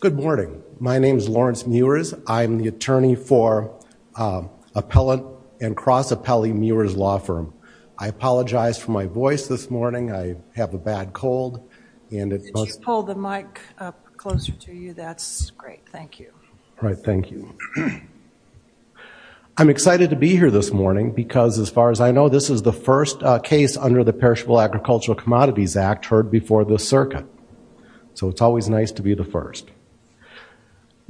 Good morning. My name is Lawrence Mewers. I'm the attorney for Appellant and Cross-Appellee Mewers Law Firm. I apologize for my voice this morning. I have a bad cold and it's just hold the mic closer to you. That's great. Thank you. All right. Thank you. I'm excited to be here this morning because as far as I know this is the first case under the Perishable Agricultural Commodities Act heard before the circuit. So it's always nice to be the first.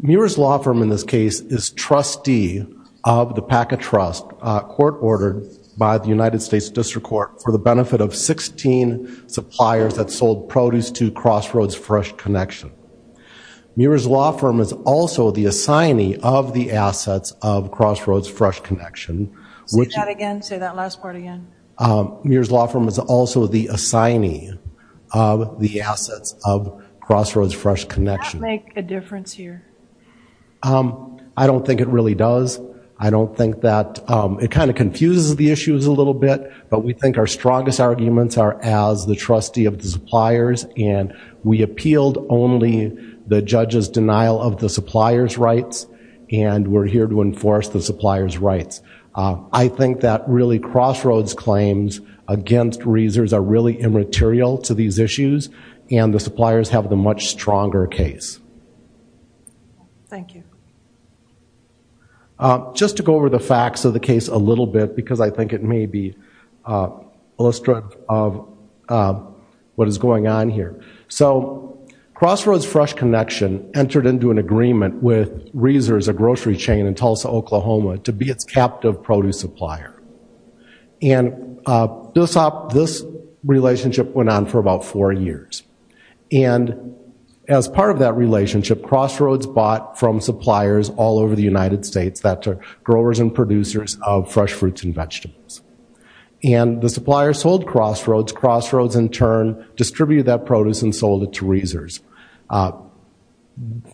Mewers Law Firm in this case is trustee of the Packet Trust court ordered by the United States District Court for the benefit of 16 suppliers that sold produce to Crossroads Fresh Connection. Mewers Law Firm is also the assignee of the assets of Crossroads Fresh Connection. Say that again. Say that last part again. Mewers Law Firm is also the assignee of the assets of Crossroads Fresh Connection. Does that make a difference here? I don't think it really does. I don't think that it kind of confuses the issues a little bit but we think our strongest arguments are as the trustee of the suppliers and we appealed only the judge's denial of the supplier's rights and we're here to enforce the supplier's rights. I think that really Crossroads claims against reasors are really immaterial to these issues and the suppliers have the much stronger case. Thank you. Just to go over the facts of the case a little bit because I think it may be illustrated of what is going on here. So Crossroads Fresh Connection entered into an agreement with reasors, a grocery chain in Tulsa, Oklahoma to be its captive produce supplier and this relationship went on for about four years and as part of that relationship Crossroads bought from suppliers all over the United States that are growers and producers of fresh fruits and vegetables and the supplier sold Crossroads. Crossroads in turn distributed that produce and sold it to reasors.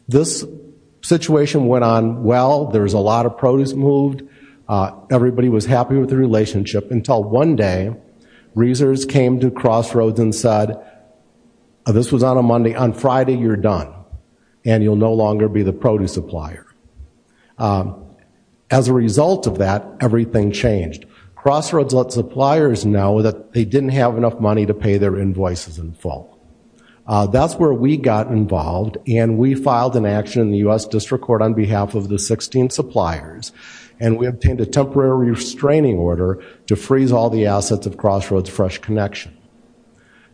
This situation went on well. There was a lot of produce moved. Everybody was happy with the relationship until one day reasors came to Crossroads and said this was on a Monday. On Friday you're done and you'll no longer be the produce supplier. As a result of that everything changed. Crossroads let suppliers know that they didn't have enough money to pay their invoices in full. That's where we got involved and we filed an action in the U.S. District Court on behalf of the 16 suppliers and we obtained a temporary restraining order to freeze all the assets of Crossroads Fresh Connection.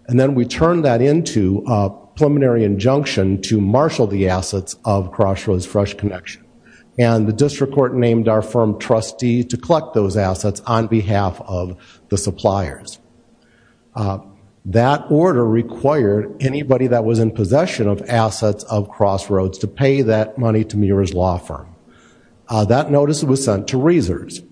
And then we turned that into a preliminary injunction to marshal the assets of Crossroads Fresh Connection and the District Court named our firm trustee to collect those assets on behalf of the suppliers. That order required anybody that was in possession of assets of Crossroads to pay that money to Muir's law firm. That notice was sent to reasors.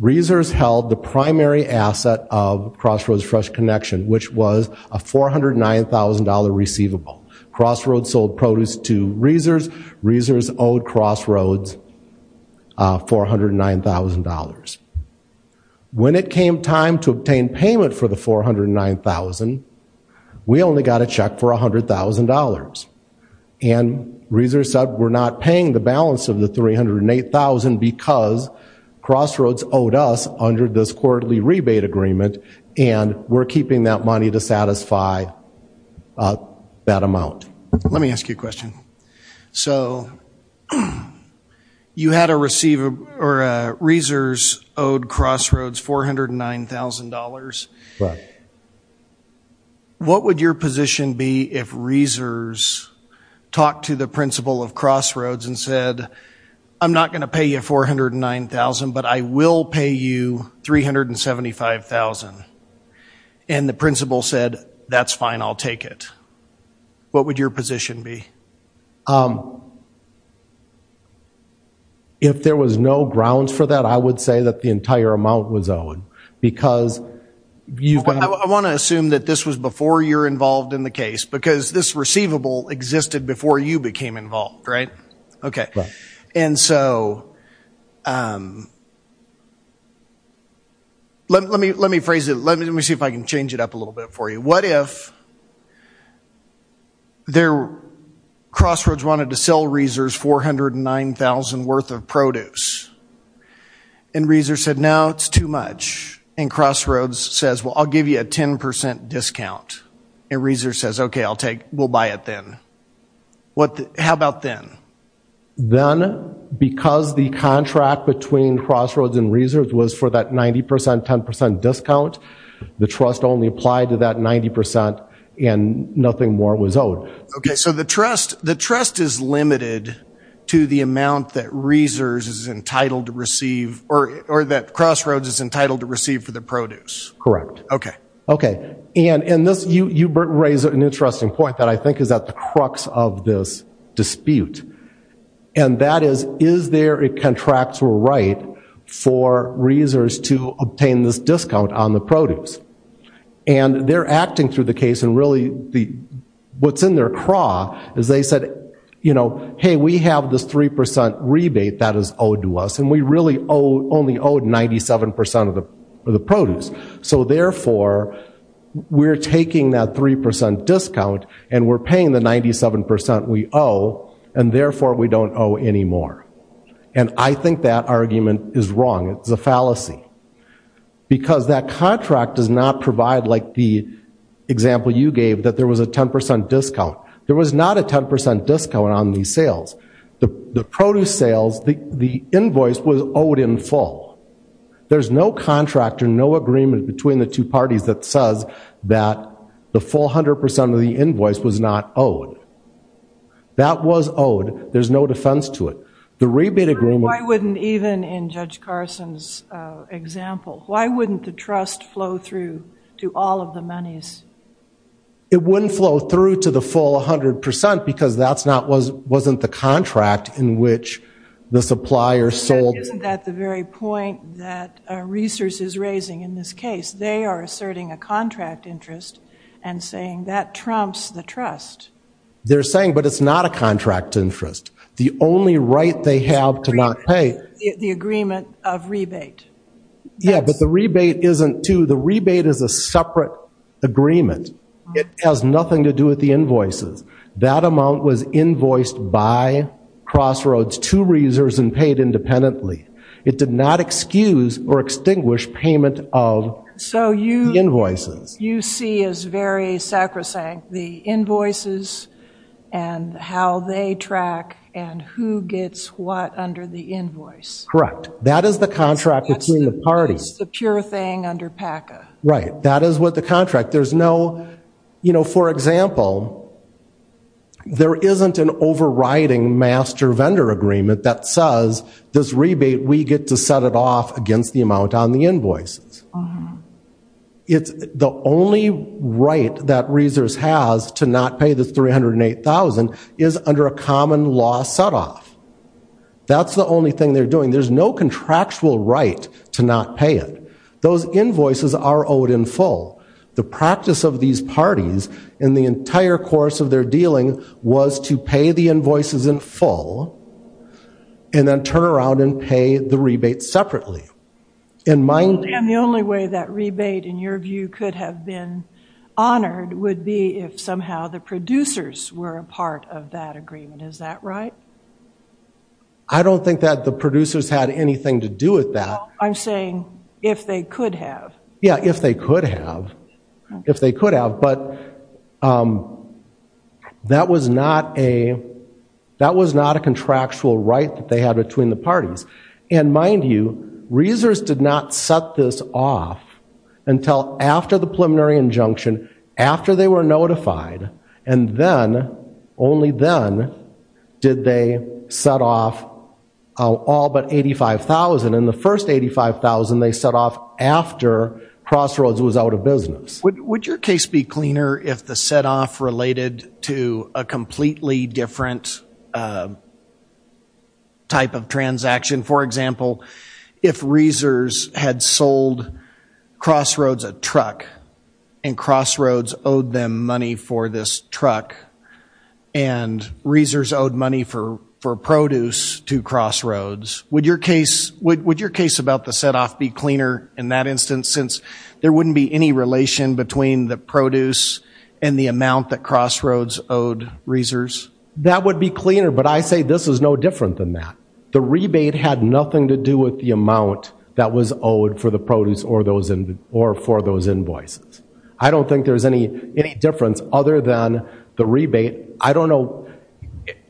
Reasors held the primary asset of Crossroads Fresh Connection which was a $409,000 receivable. Crossroads sold produce to reasors. Reasors owed Crossroads $409,000. When it came time to obtain payment for the $409,000 we only got a check for $100,000. And reasors said we're not paying the balance of the $308,000 because Crossroads owed us under this quarterly rebate agreement and we're keeping that money to satisfy that amount. Let me ask you a question. So you had a receivable or a reasors owed Crossroads $409,000. What would your position be if reasors talked to the principal of Crossroads and said I'm not going to pay you $409,000 but I will pay you $375,000 and the principal said that's fine I'll take it. What would your position be? If there was no grounds for that I would say that the entire amount was owed because you've been I want to assume that this was before you're involved in the case because this receivable existed before you became involved, right? Okay. And so let me let me phrase it let me see if I can change it up a little bit for you. What if there Crossroads wanted to sell reasors $409,000 worth of produce and reasors said no it's too much and Crossroads says well I'll give you a 10% discount and reasors says okay I'll take we'll buy it then. What how about then? Then because the contract between Crossroads and reasors was for that 90% 10% discount the trust only applied to that 90% and nothing more was owed. Okay so the trust the trust is limited to the amount that reasors is entitled to receive or or that Crossroads is entitled to receive for the produce. Correct. Okay. Okay and in this you you raise an interesting point that I think is at the crux of this dispute. And that is is there a contractual right for reasors to obtain this discount on the produce? And they're acting through the case and really the what's in their craw is they said you know hey we have this 3% rebate that is owed to us and we really owe only owed 97% of the produce. So therefore we're taking that 3% discount and we're paying the 97% we owe and therefore we don't owe any more. And I think that argument is wrong. It's a fallacy. Because that contract does not provide like the example you gave that there was a 10% discount. There was not a 10% discount on these sales. The produce sales the the invoice was owed in full. There's no contract or no agreement between the two That was owed. There's no defense to it. The rebate agreement. Why wouldn't even in Judge Carson's example. Why wouldn't the trust flow through to all of the monies? It wouldn't flow through to the full 100% because that's not was wasn't the contract in which the supplier sold. Isn't that the very point that reasors is raising in this case? They are asserting a contract interest and saying that trumps the trust. They're saying but it's not a contract interest. The only right they have to not pay. The agreement of rebate. Yeah but the rebate isn't to the rebate is a separate agreement. It has nothing to do with the invoices. That amount was invoiced by Crossroads to reasors and paid independently. It did not excuse or extinguish payment of invoices. So you see as very sacrosanct the invoices and how they track and who gets what under the invoice. Correct. That is the contract between the parties. That's the pure thing under PACA. Right. That is what the contract. There's no you know for example there isn't an overriding master vendor agreement that says this rebate we get to set it off against the amount on the invoices. It's the only right that reasors has to not pay the three hundred and eight thousand is under a common law set off. That's the only thing they're doing. There's no contractual right to not pay it. Those invoices are owed in full. The practice of these parties in the entire course of their dealing was to pay the invoices in full and then turn around and pay the rebate separately. And the only way that rebate in your view could have been honored would be if somehow the producers were a part of that agreement. Is that right? I don't think that the producers had anything to do with that. I'm saying if they could have. Yeah if they could have. If they could have. That was not a contractual right that they had between the parties. And mind you reasors did not set this off until after the preliminary injunction. After they were notified. And then only then did they set off all but eighty five thousand. And the first eighty five thousand they set off after Crossroads was out of business. Would your case be cleaner if the set off related to a completely different type of transaction? For example if reasors had sold Crossroads a truck. And Crossroads owed them money for this truck. And reasors owed money for produce to Crossroads. Would your case about the set off be cleaner in that instance since there wouldn't be any relation between the produce and the amount that Crossroads owed reasors? That would be cleaner. But I say this is no different than that. The rebate had nothing to do with the amount that was owed for the produce or for those invoices. I don't think there's any difference other than the rebate. I don't know.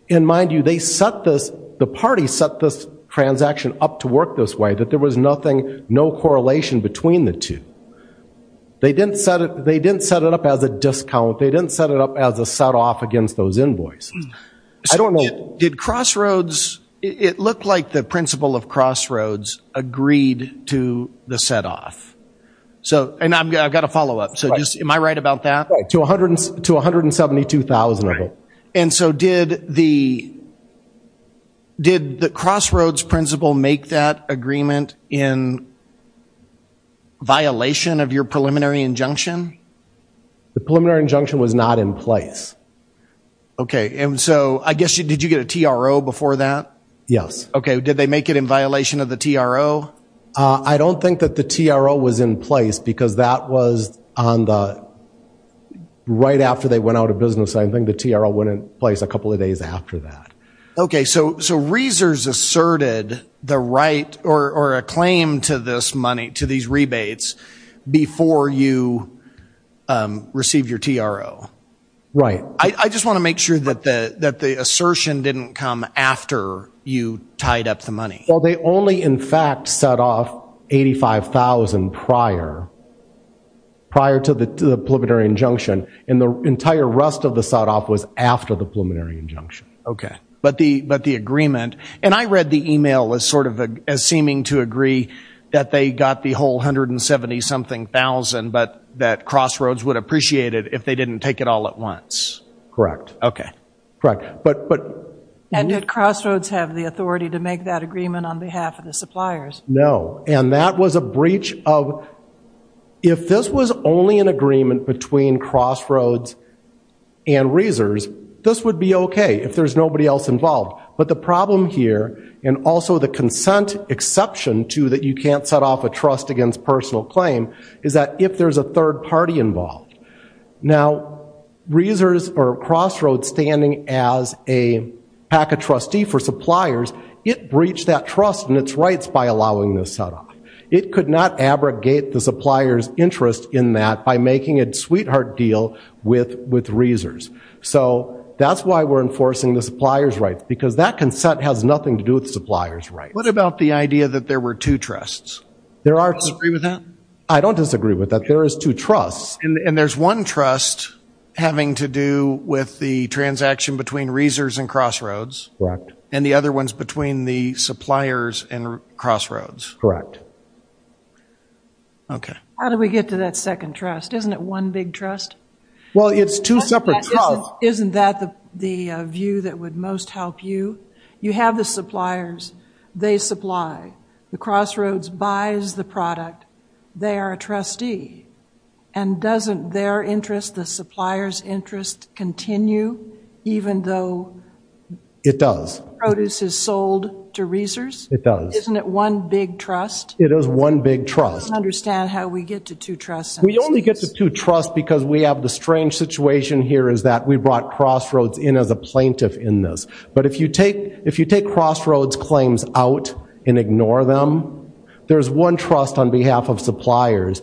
And mind you they set this the party set this transaction up to work this way. That there was nothing no correlation between the two. They didn't set it up as a discount. They didn't set it up as a set off against those invoices. I don't know. Did Crossroads it looked like the principal of Crossroads agreed to the set off. So and I've got a follow up so just am I right about that? Right to a hundred and seventy two thousand of it. And so did the did the Crossroads principal make that agreement in violation of your preliminary injunction? The preliminary injunction was not in place. Okay and so I guess did you get a TRO before that? Yes. Okay did they make it in violation of the TRO? I don't think that the TRO was in place because that was on the right after they went out of business and I think the TRO went in place a couple of days after that. Okay so Reesers asserted the right or a claim to this money to these rebates before you received your TRO. Right. I just want to make sure that the assertion didn't come after you tied up the money. Well they only in fact set off eighty five thousand prior prior to the preliminary injunction and the entire rest of the set off was after the preliminary injunction. Okay but the but the agreement and I read the email as sort of as seeming to agree that they got the whole hundred and seventy something thousand but that Crossroads would appreciate it if they didn't take it all at once. Correct. Okay. Correct but but. And did Crossroads have the authority to make that agreement on behalf of the suppliers? No and that was a breach of if this was only an agreement between Crossroads and Reesers this would be okay if there's nobody else involved but the problem here and also the consent exception to that you can't set off a trust against personal claim is that if there's a third party involved. Now Reesers or Crossroads standing as a PACA trustee for suppliers it breached that trust and its rights by allowing this set off. It could not abrogate the supplier's interest in that by making a sweetheart deal with with Reesers. So that's why we're enforcing the supplier's rights because that consent has nothing to do with the supplier's rights. What about the idea that there were two trusts? There are. Do you disagree with that? I don't disagree with that there is two trusts. And there's one trust having to do with the transaction between Reesers and Crossroads. Correct. And the other one's between the suppliers and Crossroads. Correct. Okay. How do we get to that second trust? Isn't it one big trust? Well it's two separate trusts. Isn't that the view that would most help you? You have the suppliers they supply. The Crossroads buys the product. They are a trustee. And doesn't their interest the supplier's interest continue even though? It does. Produce is sold to Reesers? It does. Isn't it one big trust? It is one big trust. I don't understand how we get to two trusts. We only get to two trusts because we have the strange situation here is that we brought Crossroads in as a plaintiff in this. But if you take if you take Crossroads claims out and ignore them there's one trust on behalf of suppliers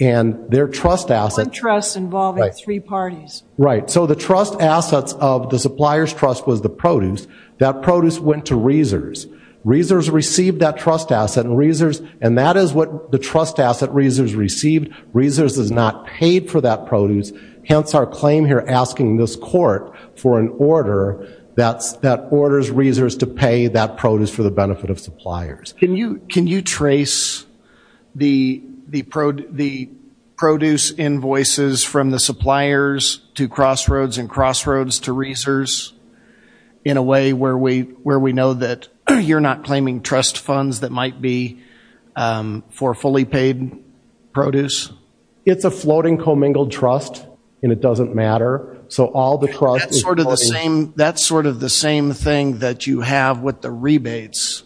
and their trust asset. One trust involving three parties. Right. So the trust assets of the supplier's trust was the produce. That produce went to Reesers. Reesers received that trust asset and Reesers and that is what the trust asset Reesers received. Reesers has not paid for that produce. Hence our claim here asking this court for an order that orders Reesers to pay that produce for the benefit of suppliers. Can you trace the produce invoices from the suppliers to Crossroads and Crossroads to Reesers in a way where we know that you're not claiming trust funds that might be for fully paid produce? It's a floating commingled trust and it doesn't matter. So all the trust That's sort of the same thing that you have with the rebates.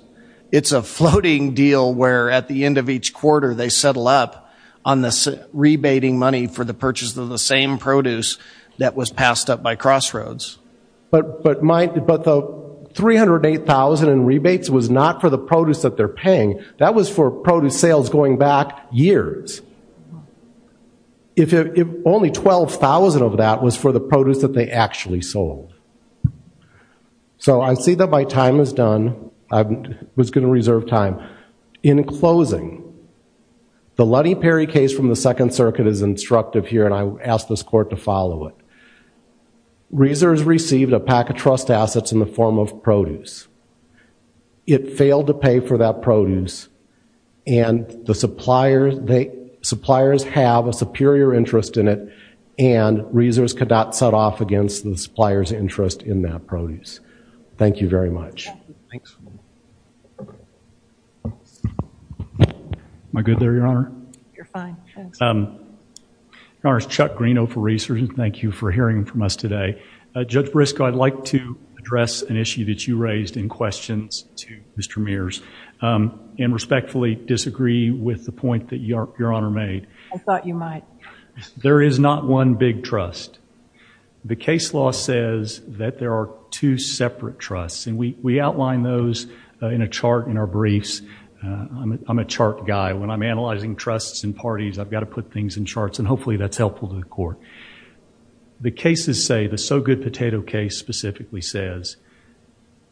It's a floating deal where at the end of each quarter they settle up on the rebating money for the purchase of the same produce that was passed up by Crossroads. But the $308,000 in rebates was not for the produce that they're paying. That was for produce sales going back years. If only $12,000 of that was for the produce that they actually sold. So I see that my time is done. I was going to reserve time. In closing, the Luddy Perry case from the Second Circuit is instructive here and I ask this court to follow it. Reesers received a pack of trust assets in the form of produce. It failed to pay for that produce and the suppliers have a superior interest in it and Reesers could not set off against the supplier's interest in that produce. Thank you very much. Thanks. Am I good there, Your Honor? You're fine. Your Honor, it's Chuck Greeno for Reesers. Thank you for hearing from us today. Judge Briscoe, I'd like to address an issue that you raised in questions to Mr. Mears and respectfully disagree with the point that Your Honor made. I thought you might. There is not one big trust. The case law says that there are two separate trusts and we outline those in a chart in our briefs. I'm a chart guy. When I'm analyzing trusts and parties, I've got to put things in charts and hopefully that's helpful to the court. The cases say, the So Good Potato case specifically says,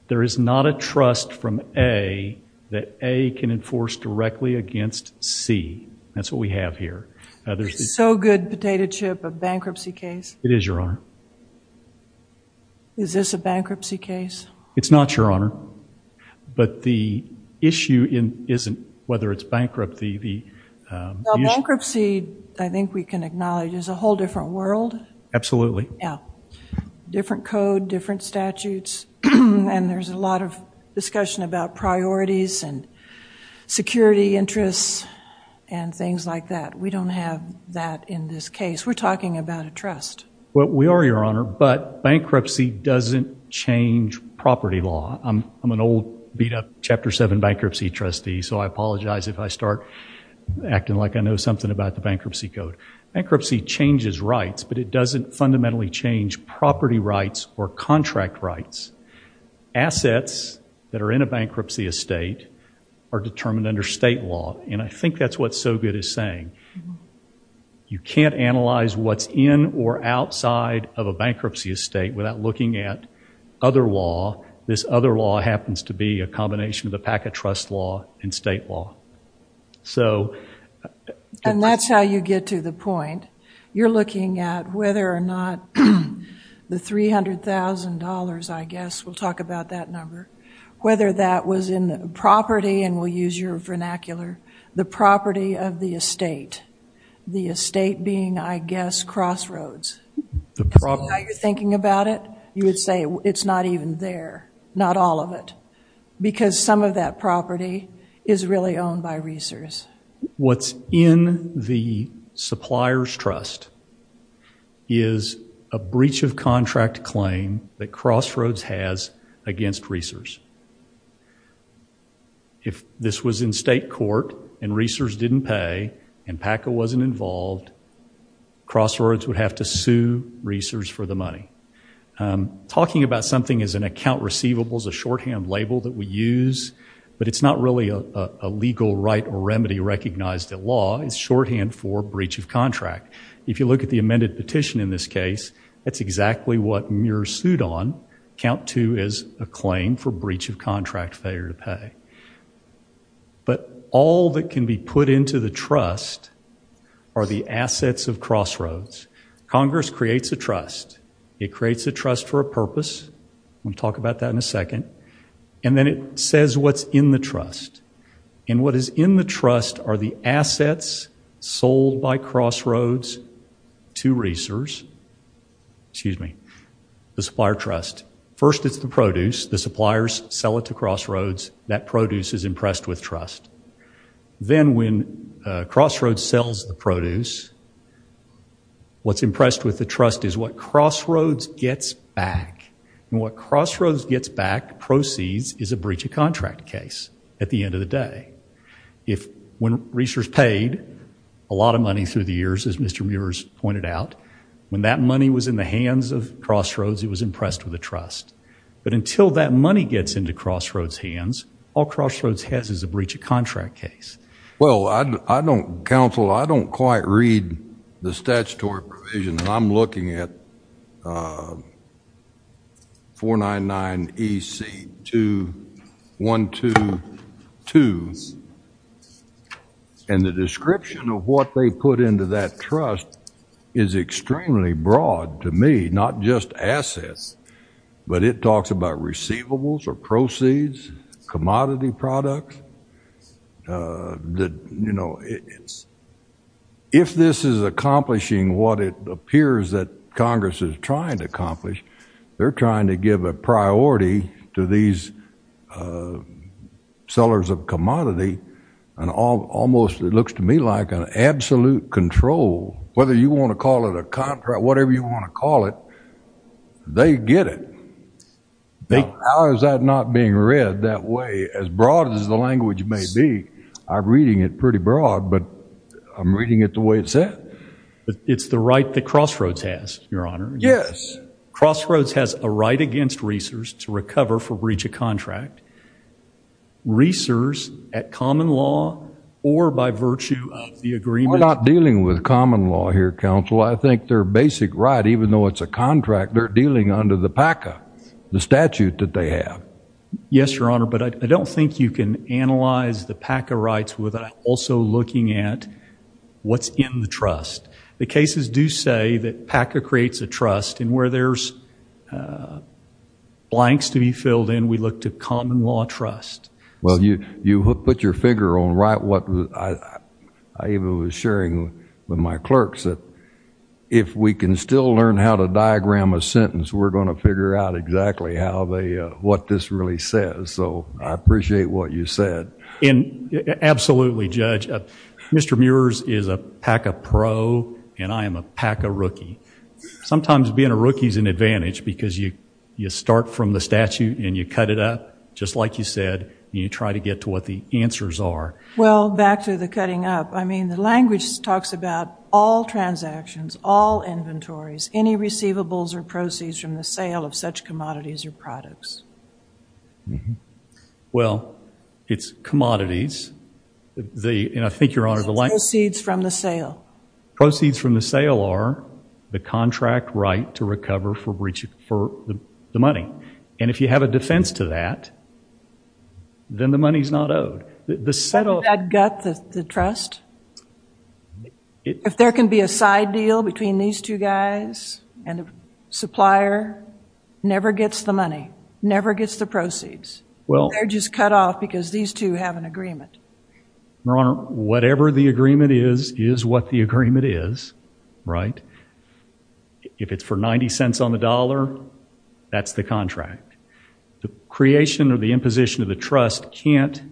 there is not a trust from A that A can enforce directly against C. That's what we have here. So Good Potato Chip, a bankruptcy case? It is, Your Honor. Is this a bankruptcy case? It's not, Your Honor, but the issue isn't whether it's bankrupt. Bankruptcy, I think we can acknowledge, is a whole different world. Absolutely. Different code, different statutes, and there's a lot of discussion about priorities and security interests and things like that. We don't have that in this case. We're talking about a trust. Well, we are, Your Honor, but bankruptcy doesn't change property law. I'm an old beat-up Chapter 7 bankruptcy trustee, so I apologize if I start acting like I know something about the bankruptcy code. Bankruptcy changes rights, but it doesn't fundamentally change property rights or contract rights. Assets that are in a bankruptcy estate are determined under state law, and I think that's what So Good is saying. You can't analyze what's in or outside of a bankruptcy estate without looking at other law. This other law happens to be a combination of the packet trust law and state law. And that's how you get to the point. You're looking at whether or not the $300,000, I guess, we'll talk about that number, whether that was in property, and we'll use your vernacular, the property of the estate, the estate being, I guess, Crossroads. The property. Now you're thinking about it, you would say it's not even there, not all of it, because some of that property is really owned by Reesers. What's in the supplier's trust is a breach of contract claim that Crossroads has against Reesers. If this was in state court and Reesers didn't pay and PACA wasn't involved, Crossroads would have to sue Reesers for the money. Talking about something as an account receivable is a shorthand label that we use, but it's not really a legal right or remedy recognized at law. It's shorthand for breach of contract. If you look at the amended petition in this for breach of contract failure to pay. But all that can be put into the trust are the assets of Crossroads. Congress creates a trust. It creates a trust for a purpose. We'll talk about that in a second. And then it says what's in the trust. And what is in the trust are the assets sold by Crossroads to Reesers, excuse me, the supplier trust. First it's the produce. The suppliers sell it to Crossroads. That produce is impressed with trust. Then when Crossroads sells the produce, what's impressed with the trust is what Crossroads gets back. And what Crossroads gets back proceeds is a breach of contract case at the end of the day. If when Reesers paid a lot of money through the years, as Mr. Muir has pointed out, when that money was in the hands of Crossroads, it was impressed with the trust. But until that money gets into Crossroads' hands, all Crossroads has is a breach of contract case. Well, I don't, counsel, I don't quite read the statutory provision. And I'm looking at 499EC2122. And the description of what they put into that trust is extremely broad to me, not just assets. But it talks about receivables or proceeds, commodity products. If this is accomplishing what it appears that Congress is trying to accomplish, they're trying to give a priority to these sellers of commodity and almost, it looks to me like, an absolute control. Whether you want to call it a contract, whatever you want to call it, they get it. How is that not being read that way, as broad as the language may be? I'm reading it pretty broad, but I'm reading it the way it's said. It's the right that Crossroads has, Your Honor. Yes. Crossroads has a right against Reesers to common law or by virtue of the agreement. We're not dealing with common law here, counsel. I think their basic right, even though it's a contract, they're dealing under the PACA, the statute that they have. Yes, Your Honor. But I don't think you can analyze the PACA rights without also looking at what's in the trust. The cases do say that PACA creates a trust. And where there's blanks to be filled in, we look to common law trust. Well, you put your figure on right. I even was sharing with my clerks that if we can still learn how to diagram a sentence, we're going to figure out exactly what this really says. So I appreciate what you said. Absolutely, Judge. Mr. Muirs is a PACA pro, and I am a PACA rookie. Sometimes being a rookie is an advantage because you start from the beginning. You try to get to what the answers are. Well, back to the cutting up. I mean, the language talks about all transactions, all inventories, any receivables or proceeds from the sale of such commodities or products. Well, it's commodities. And I think, Your Honor, the line- It's proceeds from the sale. Proceeds from the sale are the contract right to recover for the money. And if you have a defense to that, then the money's not owed. The settle- That gut the trust? If there can be a side deal between these two guys and the supplier never gets the money, never gets the proceeds. They're just cut off because these two have an agreement. Your Honor, whatever the agreement is is what the agreement is, right? If it's for 90 cents on the dollar, that's the contract. The creation or the imposition of the trust can't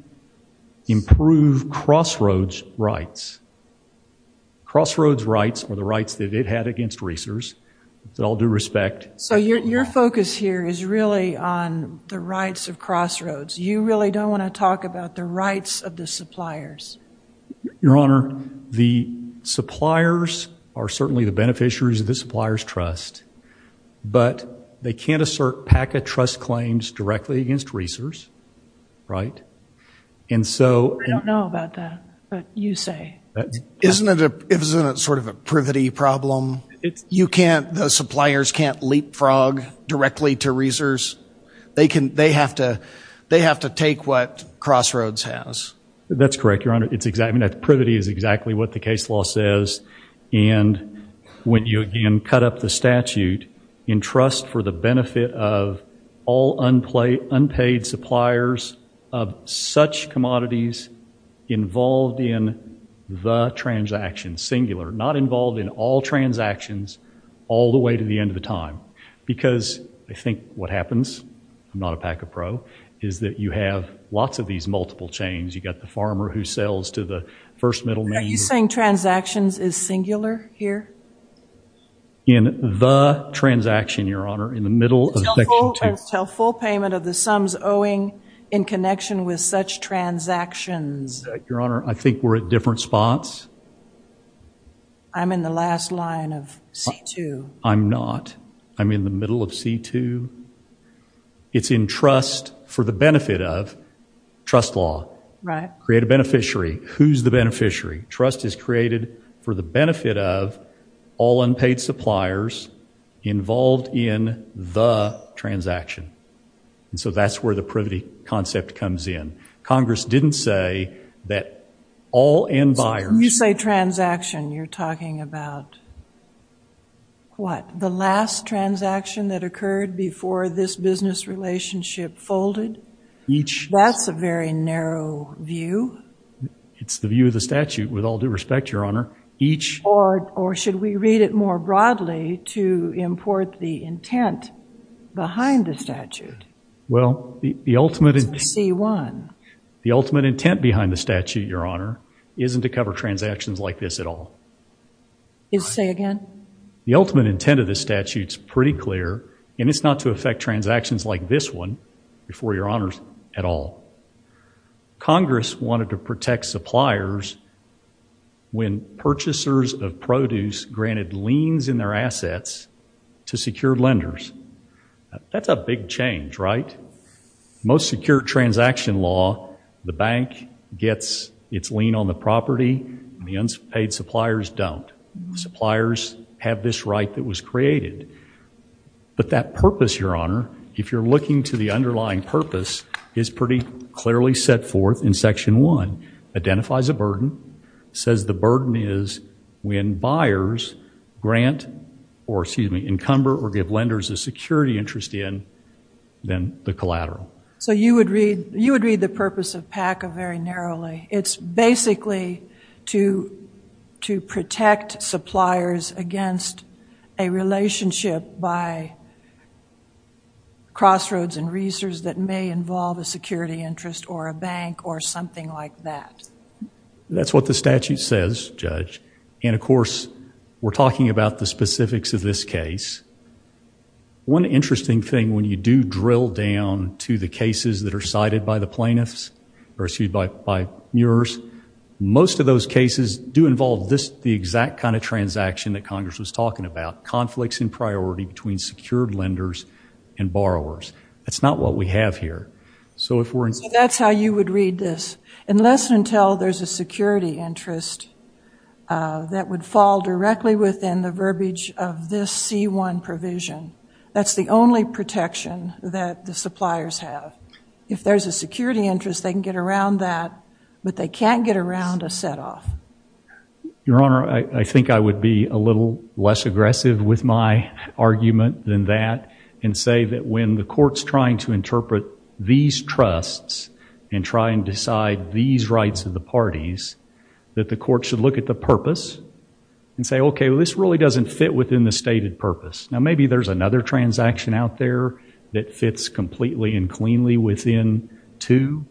improve crossroads rights. Crossroads rights are the rights that it had against Reesers, with all due respect. So your focus here is really on the rights of crossroads. You really don't want to talk about the rights of the suppliers. Your Honor, the suppliers are certainly the beneficiaries of the supplier's trust, but they can't assert PACA trust claims directly against Reesers, right? And so- I don't know about that, but you say. Isn't it sort of a privity problem? You can't- the suppliers can't leapfrog directly to Reesers. They have to take what crossroads has. That's correct, Your Honor. Privity is exactly what the case law says. And when you again cut up the statute in trust for the benefit of all unpaid suppliers of such commodities involved in the transaction, singular, not involved in all transactions all the way to the end of the time, because I think what happens, I'm not a PACA pro, is that you have lots of these multiple chains. You've got the farmer who sells to the first middleman- Are you saying transactions is singular here? In the transaction, Your Honor, in the middle of section 2- Until full payment of the sums owing in connection with such transactions. Your Honor, I think we're at different spots. I'm in the last line of C2. I'm not. I'm in the middle of C2. It's in trust for the benefit of- trust law. Create a beneficiary. Who's the beneficiary? Trust is created for the benefit of all unpaid suppliers involved in the transaction. And so that's where the privity concept comes in. Congress didn't say that all end buyers- What? The last transaction that occurred before this business relationship folded? That's a very narrow view. It's the view of the statute, with all due respect, Your Honor. Or should we read it more broadly to import the intent behind the statute? Well, the ultimate- It's in C1. The ultimate intent behind the statute, Your Honor, isn't to cover transactions like this at all. Say again? The ultimate intent of the statute's pretty clear, and it's not to affect transactions like this one, before Your Honor, at all. Congress wanted to protect suppliers when purchasers of produce granted liens in their assets to secure lenders. That's a big change, right? Most secure transaction law, the bank gets its lien on the property, and the unpaid suppliers don't. Suppliers have this right that was created. But that purpose, Your Honor, if you're looking to the underlying purpose, is pretty clearly set forth in Section 1. Identifies a burden, says the burden is when buyers grant, or excuse me, encumber or give lenders a security interest in, then the collateral. You would read the purpose of PACA very narrowly. It's basically to protect suppliers against a relationship by crossroads and reasons that may involve a security interest or a bank or something like that. That's what the statute says, Judge. And of course, we're talking about the specifics of this case. One interesting thing, when you do drill down to the cases that are cited by the plaintiffs, or excuse me, by yours, most of those cases do involve the exact kind of transaction that Congress was talking about, conflicts in priority between secured lenders and borrowers. That's not what we have here. So that's how you would read this. Unless and until there's a security interest that would fall directly within the verbiage of this C-1 provision. That's the only protection that the suppliers have. If there's a security interest, they can get around that, but they can't get around a set-off. Your Honor, I think I would be a little less aggressive with my argument than that and say that when the court's trying to interpret these trusts and try and decide these rights of the parties, that the court should look at the purpose and say, okay, well, this really doesn't fit within the stated purpose. Now, maybe there's another transaction out there that fits completely and cleanly within two.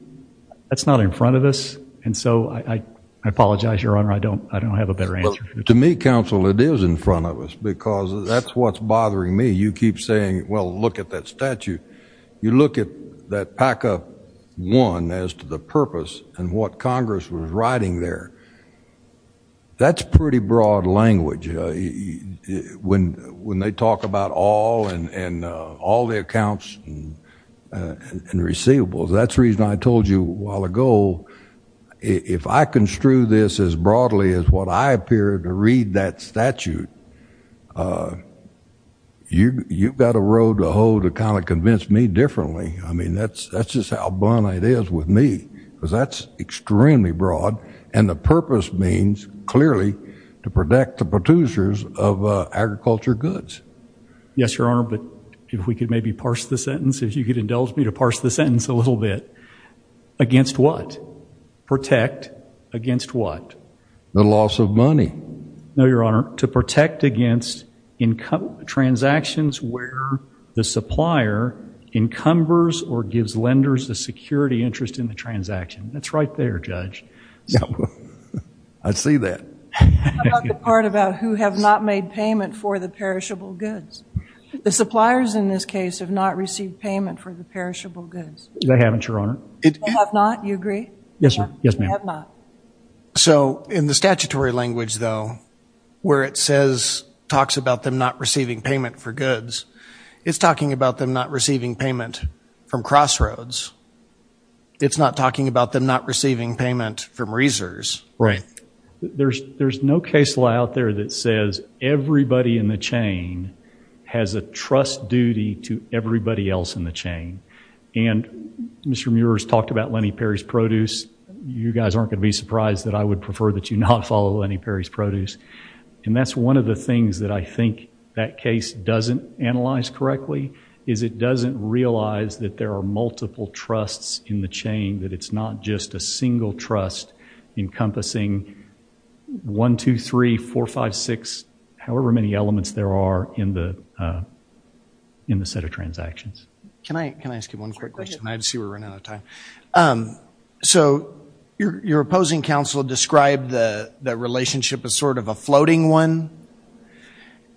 That's not in front of us. And so I apologize, Your Honor, I don't have a better answer. To me, Counsel, it is in front of us because that's what's bothering me. You keep saying, well, look at that statute. You look at that PACA 1 as to the purpose and what Congress was writing there. That's pretty broad language. When they talk about all and all the accounts and receivables, that's the reason I told you a while ago, if I construe this as broadly as what I appear to read that statute, you've got a road to hold to kind of convince me differently. I mean, that's just how blunt it is with me because that's extremely broad. And the purpose means, clearly, to protect the producers of agriculture goods. Yes, Your Honor, but if we could maybe parse the sentence, if you could indulge me to parse the sentence a little bit. Against what? Protect against what? The loss of money. No, Your Honor, to protect against transactions where the supplier encumbers or gives lenders a security interest in the transaction. That's right there, Judge. I see that. How about the part about who have not made payment for the perishable goods? The suppliers in this case have not received payment for the perishable goods. They haven't, Your Honor. They have not, you agree? Yes, ma'am. They have not. So, in the statutory language, though, where it says, talks about them not receiving payment for goods, it's talking about them not receiving payment from Crossroads. It's not talking about them not receiving payment from Reesers. Right. There's no case law out there that says everybody in the chain has a trust duty to everybody else in the chain. And Mr. Muir has talked about Lenny Perry's produce. You guys aren't going to be surprised that I would prefer that you not follow Lenny Perry's produce. And that's one of the things that I think that case doesn't analyze correctly, is it doesn't realize that there are multiple trusts in the chain, that it's not just a single trust encompassing 1, 2, 3, 4, 5, 6, however many elements there are in the set of transactions. Can I ask you one quick question? I see we're running out of time. So, your opposing counsel described the relationship as sort of a floating one.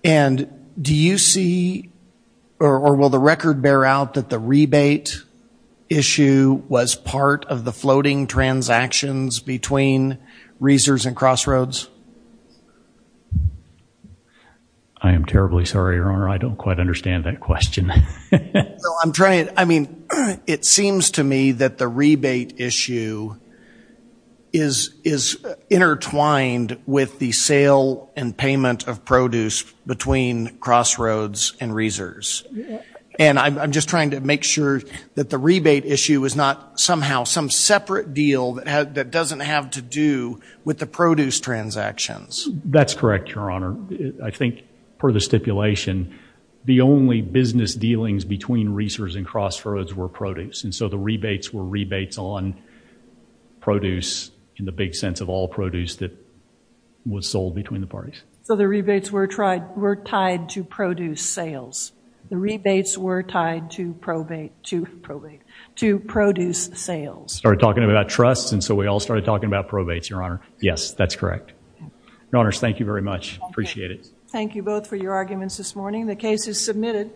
And do you see, or will the record bear out that the rebate issue was part of the floating transactions between Reesers and Crossroads? I am terribly sorry, Your Honor. I don't quite understand that question. No, I'm trying, I mean, it seems to me that the rebate issue is intertwined with the sale and payment of produce between Crossroads and Reesers. And I'm just trying to make sure that the rebate issue is not somehow some separate deal that doesn't have to do with the produce transactions. That's correct, Your Honor. I think per the stipulation, the only business dealings between Reesers and Crossroads were produce. And so the rebates were rebates on produce in the big sense of all produce that was sold between the parties. So the rebates were tied to produce sales. The rebates were tied to probate, to produce sales. We started talking about trusts, and so we all started talking about probates, Your Honor. Yes, that's correct. Your Honors, thank you very much. I appreciate it. Thank you both for your arguments this morning. The case is submitted.